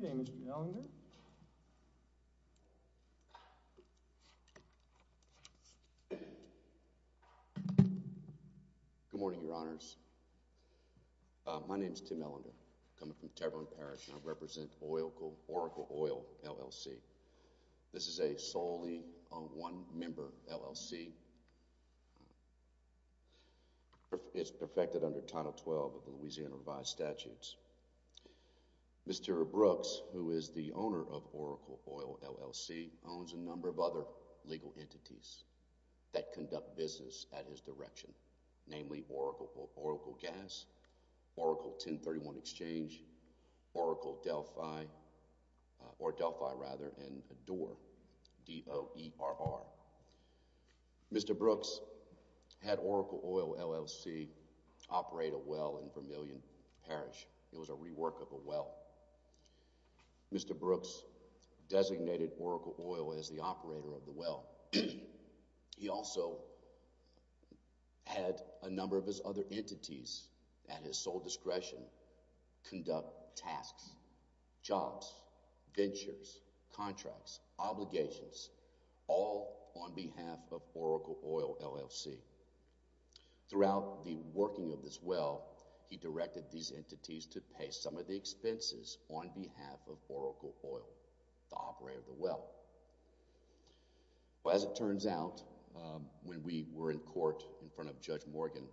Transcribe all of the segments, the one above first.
Good morning, your honors. My name is Tim Ellender. I'm coming from Tervon Parish, and I represent Oracle Oil, L.L.C. This is a solely one-member L.L.C. It's perfected under Title 12 of the Louisiana Revised Statutes. Mr. Brooks, who is the owner of Oracle Oil, L.L.C., owns a number of other legal entities that conduct business at his direction, namely Oracle Gas, Oracle 1031 Exchange, Oracle Delphi or Delphi, rather, and Adore, D-O-E-R-R. Mr. Brooks had Oracle Oil, L.L.C., operate a well in Vermillion Parish. It was a rework of a well. Mr. Brooks designated Oracle Oil as the operator of the well. He also had a number of his other entities at his sole discretion conduct tasks, jobs, ventures, contracts, obligations, all on behalf of Oracle Oil, L.L.C. Throughout the working of this well, he directed these entities to pay some of the expenses on behalf of Oracle Oil, the operator of the well. As it turns out, when we were in court in front of Judge Morgan,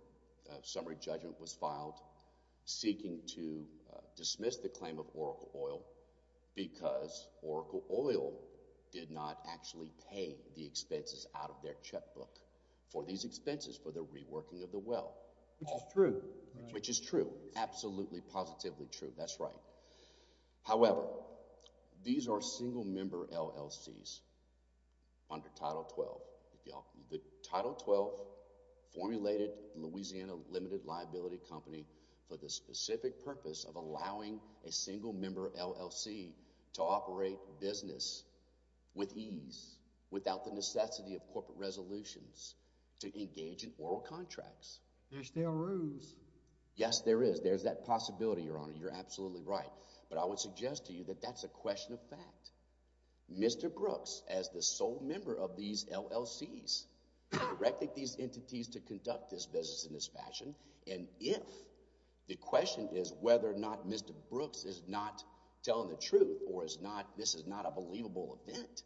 a summary judgment was filed seeking to dismiss the claim of Oracle Oil because Oracle Oil did not actually pay the expenses out of their checkbook for these expenses for the reworking of the well. Which is true. Which is true. Absolutely, positively true. That's right. However, these are single-member L.L.C.s under Title XII. The Title XII formulated Louisiana Limited Liability Company for the specific purpose of allowing a single-member L.L.C. to operate business with ease, without the necessity of corporate resolutions, to engage in oral contracts. There's still rules. Yes, there is. There's that possibility, Your Honor. You're absolutely right. But I would suggest to you that that's a question of fact. Mr. Brooks, as the sole member of these L.L.C.s, directed these entities to conduct this business in this fashion, and if the question is whether or not Mr. Brooks is not telling the truth or this is not a believable event,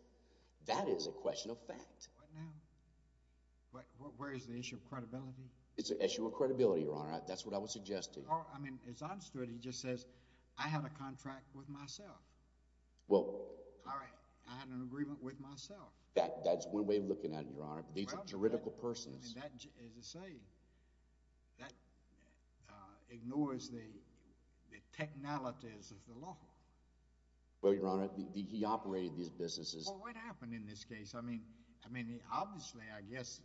that is a question of fact. What now? Where is the issue of credibility? It's an issue of credibility, Your Honor. That's what I would suggest to you. I mean, it's honest to it, he just says, I have a contract with myself. Well... All right, I have an agreement with myself. That's one way of looking at it, Your Honor. These are juridical persons. Well, I mean, that is to say, that ignores the technologies of the law. Well, Your Honor, he operated these businesses... Well, what happened in this case? I mean, obviously, I guess,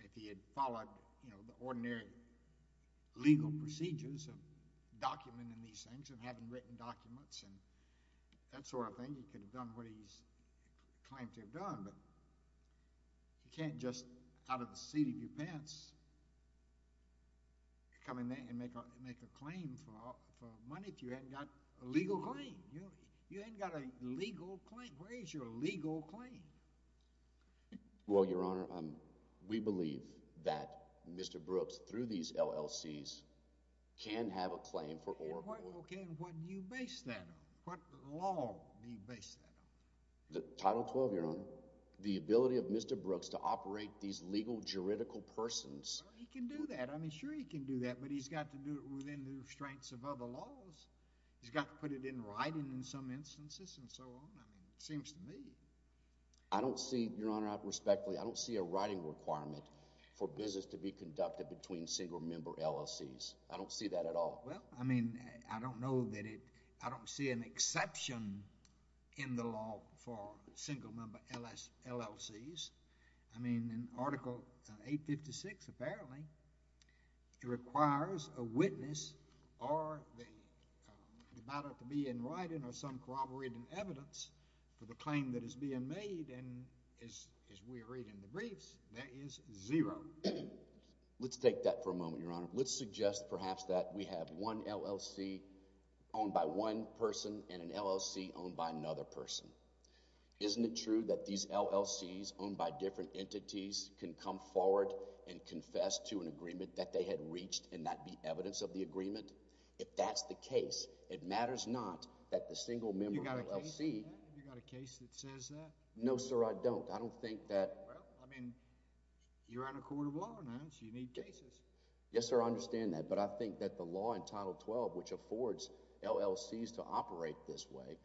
if he had followed, you know, the ordinary legal procedures of documenting these things and having written documents and that sort of thing, he could have done what he claimed to have done, but you can't just, out of the seat of your pants, come in there and make a claim for money if you haven't got a legal claim. You haven't got a legal claim. Where is your legal claim? Well, Your Honor, we believe that Mr. Brooks, through these LLCs, can have a claim for... Okay, and what do you base that on? What law do you base that on? Title XII, Your Honor. The ability of Mr. Brooks to operate these legal juridical persons... Well, he can do that. I mean, sure he can do that, but he's got to do it within the restraints of other laws. He's got to put it in writing in some instances and so on. I mean, it seems to me... I don't see, Your Honor, respectfully, I don't see a writing requirement for business to be conducted between single-member LLCs. I don't see that at all. Well, I mean, I don't know that it... I don't see an exception in the law for single-member LLCs. I mean, in Article 856, apparently, it requires a witness or the matter to be in writing or some corroborated evidence for the claim that is being made. And as we read in the briefs, there is zero. Let's take that for a moment, Your Honor. Let's suggest, perhaps, that we have one LLC owned by one person and an LLC owned by another person. Isn't it true that these LLCs owned by different entities can come forward and confess to an agreement that they had reached and that be evidence of the agreement? If that's the case, it matters not that the single-member LLC... Have you got a case that says that? No, sir, I don't. I don't think that... Well, I mean, you're on a court of law now, so you need cases. Yes, sir, I understand that. But I think that the law in Title XII, which affords LLCs to operate this way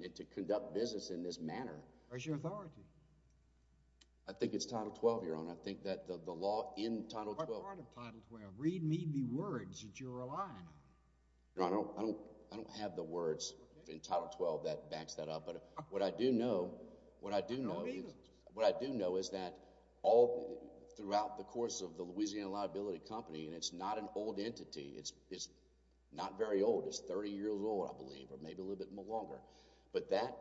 and to conduct business in this manner... Where's your authority? I think it's Title XII, Your Honor. I think that the law in Title XII... What part of Title XII? Read me the words that you're relying on. No, I don't have the words in Title XII that backs that up. What I do know is that all throughout the course of the Louisiana Liability Company, and it's not an old entity. It's not very old. It's 30 years old, I believe, or maybe a little bit longer. But that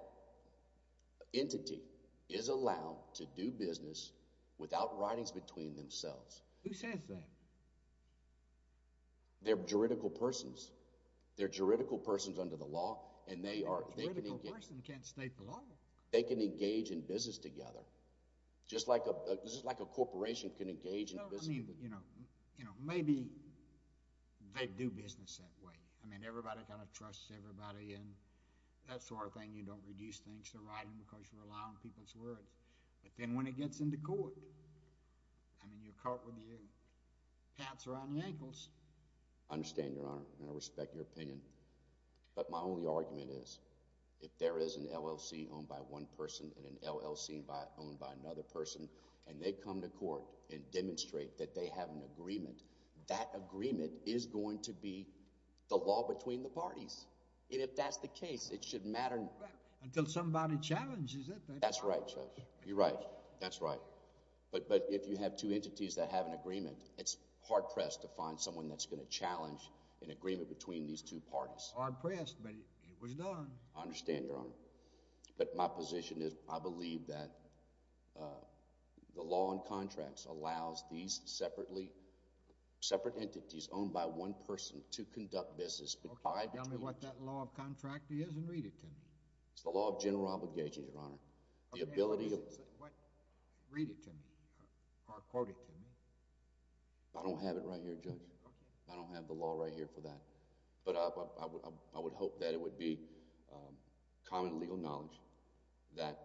entity is allowed to do business without writings between themselves. Who says that? They're juridical persons. They're juridical persons under the law, and they are... A juridical person can't state the law. They can engage in business together, just like a corporation can engage in business... No, I mean, you know, maybe they do business that way. I mean, everybody kind of trusts everybody, and that sort of thing. You don't reduce things to writing because you're relying on people's words. But then when it gets into court, I mean, you're caught with your pants around your ankles. I understand, Your Honor, and I respect your opinion. But my only argument is, if there is an LLC owned by one person and an LLC owned by another person... and they come to court and demonstrate that they have an agreement... that agreement is going to be the law between the parties. And, if that's the case, it shouldn't matter... Until somebody challenges it. That's right, Judge. You're right. That's right. But, if you have two entities that have an agreement... It's hard-pressed to find someone that's going to challenge an agreement between these two parties. Hard-pressed, but it was done. I understand, Your Honor. But, my position is, I believe that the law on contracts allows these separately... separate entities owned by one person to conduct business... Okay, tell me what that law of contract is and read it to me. It's the law of general obligation, Your Honor. The ability of... I don't have it right here, Judge. Okay. I don't have the law right here for that. But, I would hope that it would be common legal knowledge... that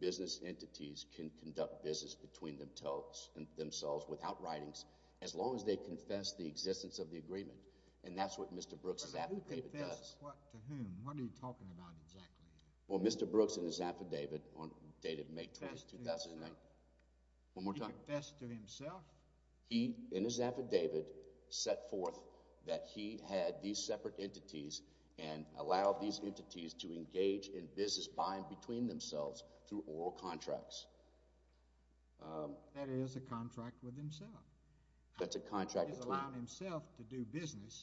business entities can conduct business between themselves without writings... as long as they confess the existence of the agreement. And, that's what Mr. Brooks' affidavit does. But, who confesses what to whom? What are you talking about exactly? Well, Mr. Brooks in his affidavit, dated May 20th, 2009... He confessed to himself? One more time. He confessed to himself? He, in his affidavit, set forth that he had these separate entities... and allowed these entities to engage in business buying between themselves through oral contracts. That is a contract with himself. That's a contract between... He's allowing himself to do business.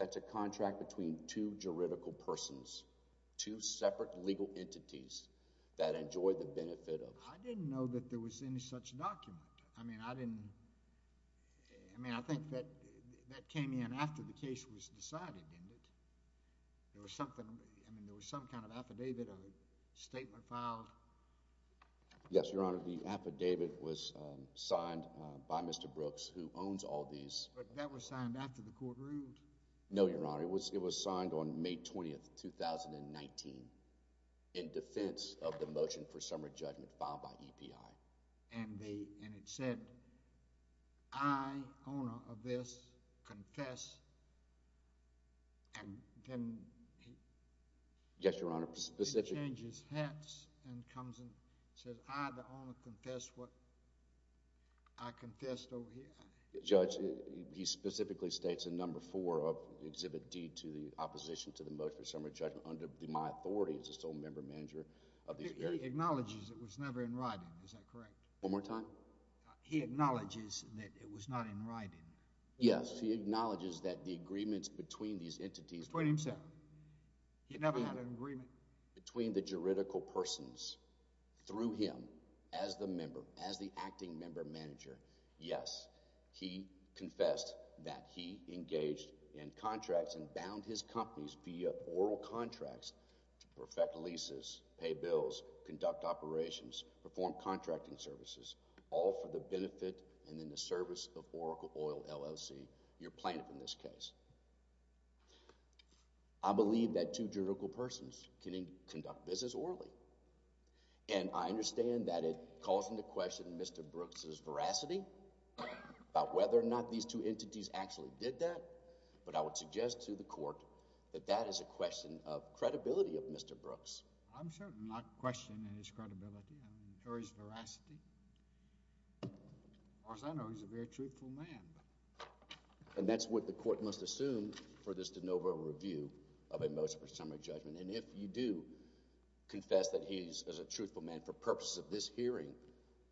That's a contract between two juridical persons. Two separate legal entities that enjoy the benefit of... I didn't know that there was any such document. I mean, I didn't... I mean, I think that came in after the case was decided, didn't it? There was something... I mean, there was some kind of affidavit or statement filed? Yes, Your Honor. The affidavit was signed by Mr. Brooks, who owns all these... But, that was signed after the court ruled? No, Your Honor. It was signed on May 20th, 2019... in defense of the motion for summary judgment filed by EPI. And, it said, I, owner of this, confess. And, then... Yes, Your Honor. He changes hats and comes and says, I, the owner, confess what I confessed over here. Judge, he specifically states in Number 4 of Exhibit D to the opposition to the motion for summary judgment, under my authority as the sole member and manager of these... He acknowledges it was never in writing. Is that correct? One more time. He acknowledges that it was not in writing. Yes, he acknowledges that the agreements between these entities... Between himself. He never had an agreement. Between the juridical persons. Through him, as the member, as the acting member manager. Yes, he confessed that he engaged in contracts and bound his companies via oral contracts to perfect leases, pay bills, conduct operations, perform contracting services... all for the benefit and in the service of Oracle Oil LLC, your plaintiff in this case. I believe that two juridical persons can conduct business orally. And, I understand that it calls into question Mr. Brooks' veracity about whether or not these two entities actually did that. But, I would suggest to the court that that is a question of credibility of Mr. Brooks. I'm certainly not questioning his credibility. I'm assuring his veracity. Of course, I know he's a very truthful man. And, that's what the court must assume for this de novo review of a motion for summary judgment. And, if you do confess that he is a truthful man for purposes of this hearing,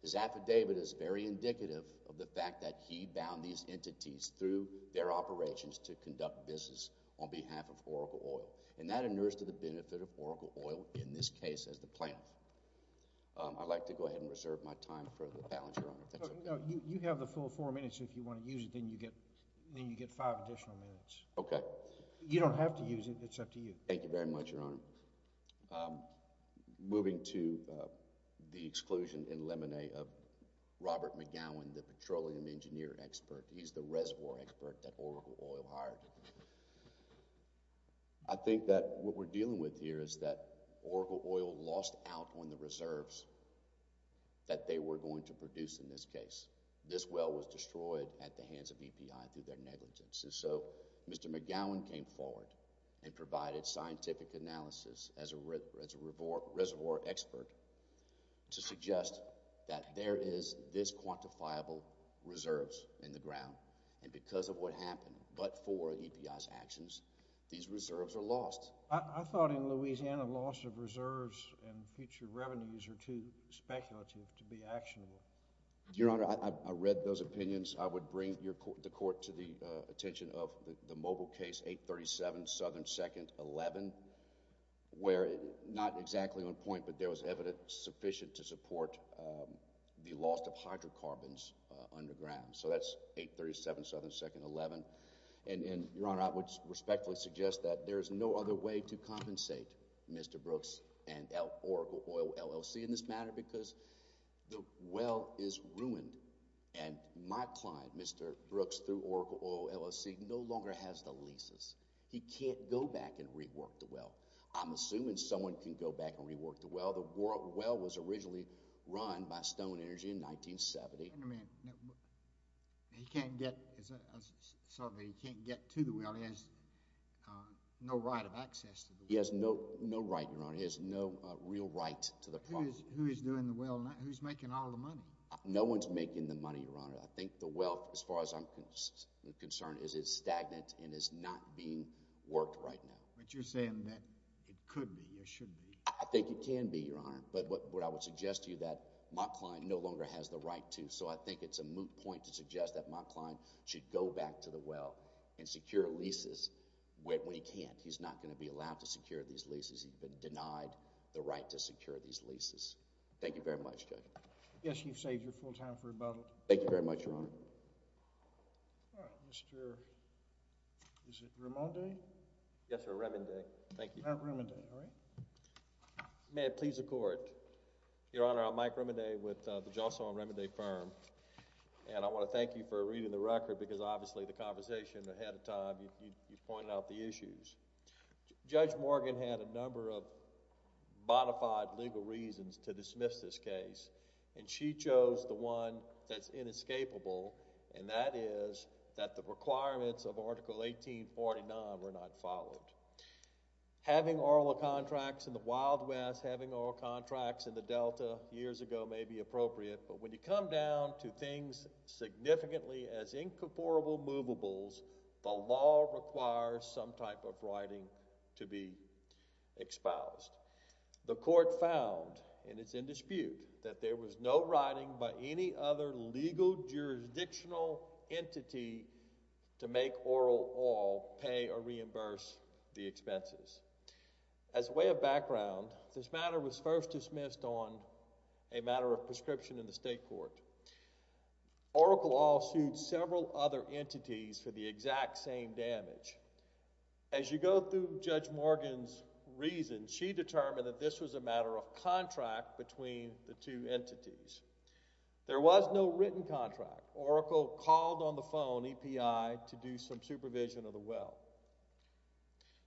his affidavit is very indicative of the fact that he bound these entities through their operations to conduct business on behalf of Oracle Oil. And, that inures to the benefit of Oracle Oil, in this case, as the plaintiff. I'd like to go ahead and reserve my time for the balance, your Honor. You have the full four minutes. If you want to use it, then you get five additional minutes. Okay. You don't have to use it. It's up to you. Thank you very much, your Honor. Moving to the exclusion in limine of Robert McGowan, the petroleum engineer expert. He's the reservoir expert that Oracle Oil hired. I think that what we're dealing with here is that Oracle Oil lost out on the reserves that they were going to produce in this case. This well was destroyed at the hands of EPI through their negligence. And so, Mr. McGowan came forward and provided scientific analysis as a reservoir expert to suggest that there is this quantifiable reserves in the ground. And, because of what happened, but for EPI's actions, these reserves are lost. I thought in Louisiana, loss of reserves and future revenues are too speculative to be actionable. Your Honor, I read those opinions. I would bring the court to the attention of the mobile case 837 Southern 2nd 11, where not exactly on point, but there was evidence sufficient to support the loss of hydrocarbons underground. So that's 837 Southern 2nd 11. And, your Honor, I would respectfully suggest that there is no other way to compensate Mr. Brooks and Oracle Oil LLC in this matter because the well is ruined and my client, Mr. Brooks, through Oracle Oil LLC, no longer has the leases. He can't go back and rework the well. I'm assuming someone can go back and rework the well. The well was originally run by Stone Energy in 1970. He can't get to the well. He has no right of access to the well. He has no right, your Honor. He has no real right to the property. Who is doing the well? Who is making all the money? No one is making the money, your Honor. I think the wealth, as far as I'm concerned, is stagnant and is not being worked right now. But you're saying that it could be or should be. I think it can be, your Honor. But what I would suggest to you is that my client no longer has the right to. So I think it's a moot point to suggest that my client should go back to the well and secure leases when he can't. I think he's not going to be allowed to secure these leases. He's been denied the right to secure these leases. Thank you very much, Judge. Yes, you've saved your full time for rebuttal. Thank you very much, your Honor. All right, Mr. – is it Remondi? Yes, sir, Remondi. Thank you. All right, Remondi. All right. May it please the Court. Your Honor, I'm Mike Remondi with the Jocelyn Remondi Firm. And I want to thank you for reading the record because obviously the conversation ahead of time you pointed out the issues. Judge Morgan had a number of modified legal reasons to dismiss this case. And she chose the one that's inescapable, and that is that the requirements of Article 1849 were not followed. Having oral contracts in the Wild West, having oral contracts in the Delta years ago may be appropriate. But when you come down to things significantly as incomparable movables, the law requires some type of writing to be exposed. The Court found, and it's in dispute, that there was no writing by any other legal jurisdictional entity to make oral oil pay or reimburse the expenses. As a way of background, this matter was first dismissed on a matter of prescription in the state court. Oracle also sued several other entities for the exact same damage. As you go through Judge Morgan's reason, she determined that this was a matter of contract between the two entities. There was no written contract. Oracle called on the phone, EPI, to do some supervision of the well.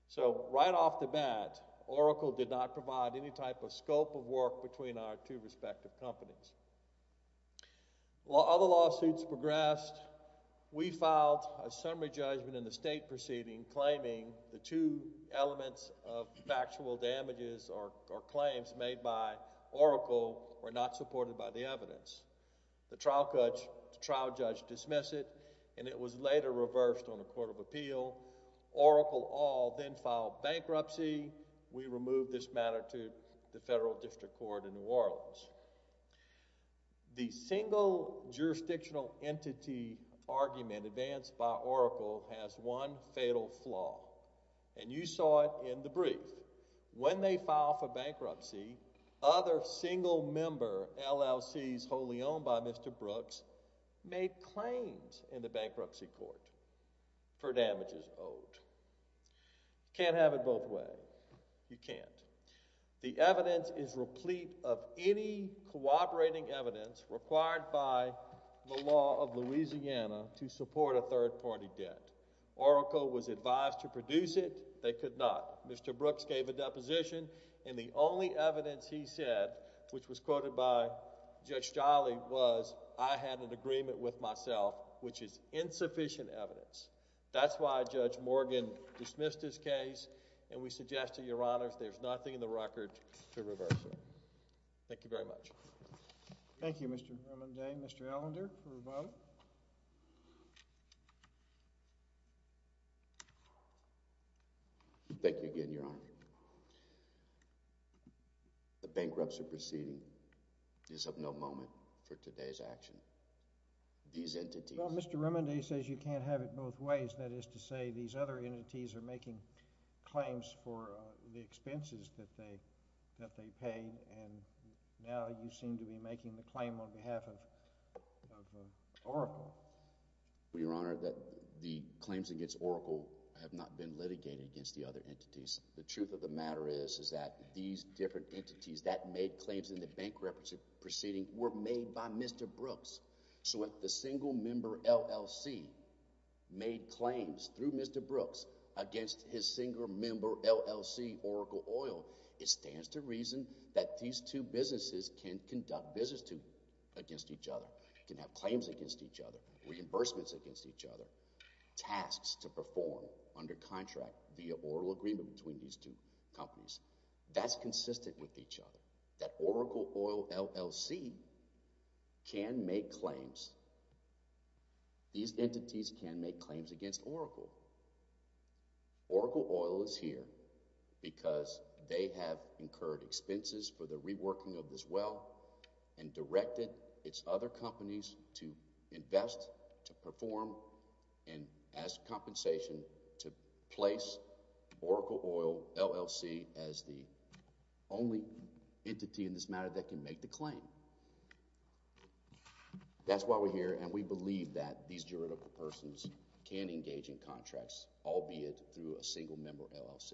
So right off the bat, Oracle did not provide any type of scope of work between our two respective companies. While other lawsuits progressed, we filed a summary judgment in the state proceeding claiming the two elements of factual damages or claims made by Oracle were not supported by the evidence. The trial judge dismissed it, and it was later reversed on a court of appeal. Oracle all then filed bankruptcy. We removed this matter to the federal district court in New Orleans. The single jurisdictional entity argument advanced by Oracle has one fatal flaw, and you saw it in the brief. When they filed for bankruptcy, other single-member LLCs wholly owned by Mr. Brooks made claims in the bankruptcy court for damages owed. Can't have it both ways. You can't. The evidence is replete of any cooperating evidence required by the law of Louisiana to support a third-party debt. Oracle was advised to produce it. They could not. Mr. Brooks gave a deposition, and the only evidence he said, which was quoted by Judge Jolly, was, I had an agreement with myself, which is insufficient evidence. That's why Judge Morgan dismissed his case, and we suggest to your honors there's nothing in the record to reverse it. Thank you very much. Thank you, Mr. Remond. Mr. Allender for a vote. Thank you again, Your Honor. The bankruptcy proceeding is of no moment for today's action. These entities— Well, Mr. Remond, he says you can't have it both ways. That is to say these other entities are making claims for the expenses that they paid, and now you seem to be making the claim on behalf of Oracle. Well, Your Honor, the claims against Oracle have not been litigated against the other entities. The truth of the matter is that these different entities that made claims in the bankruptcy proceeding were made by Mr. Brooks. So if the single-member LLC made claims through Mr. Brooks against his single-member LLC, Oracle Oil, it stands to reason that these two businesses can conduct business against each other, can have claims against each other, reimbursements against each other, tasks to perform under contract via oral agreement between these two companies. That's consistent with each other, that Oracle Oil LLC can make claims. These entities can make claims against Oracle. Oracle Oil is here because they have incurred expenses for the reworking of this well and directed its other companies to invest, to perform, and as compensation to place Oracle Oil LLC as the only entity in this matter that can make the claim. That's why we're here, and we believe that these juridical persons can engage in contracts, albeit through a single-member LLC.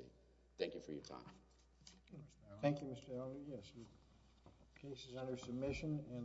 Thank you for your time. Thank you, Mr. Elder. Yes, the case is under submission.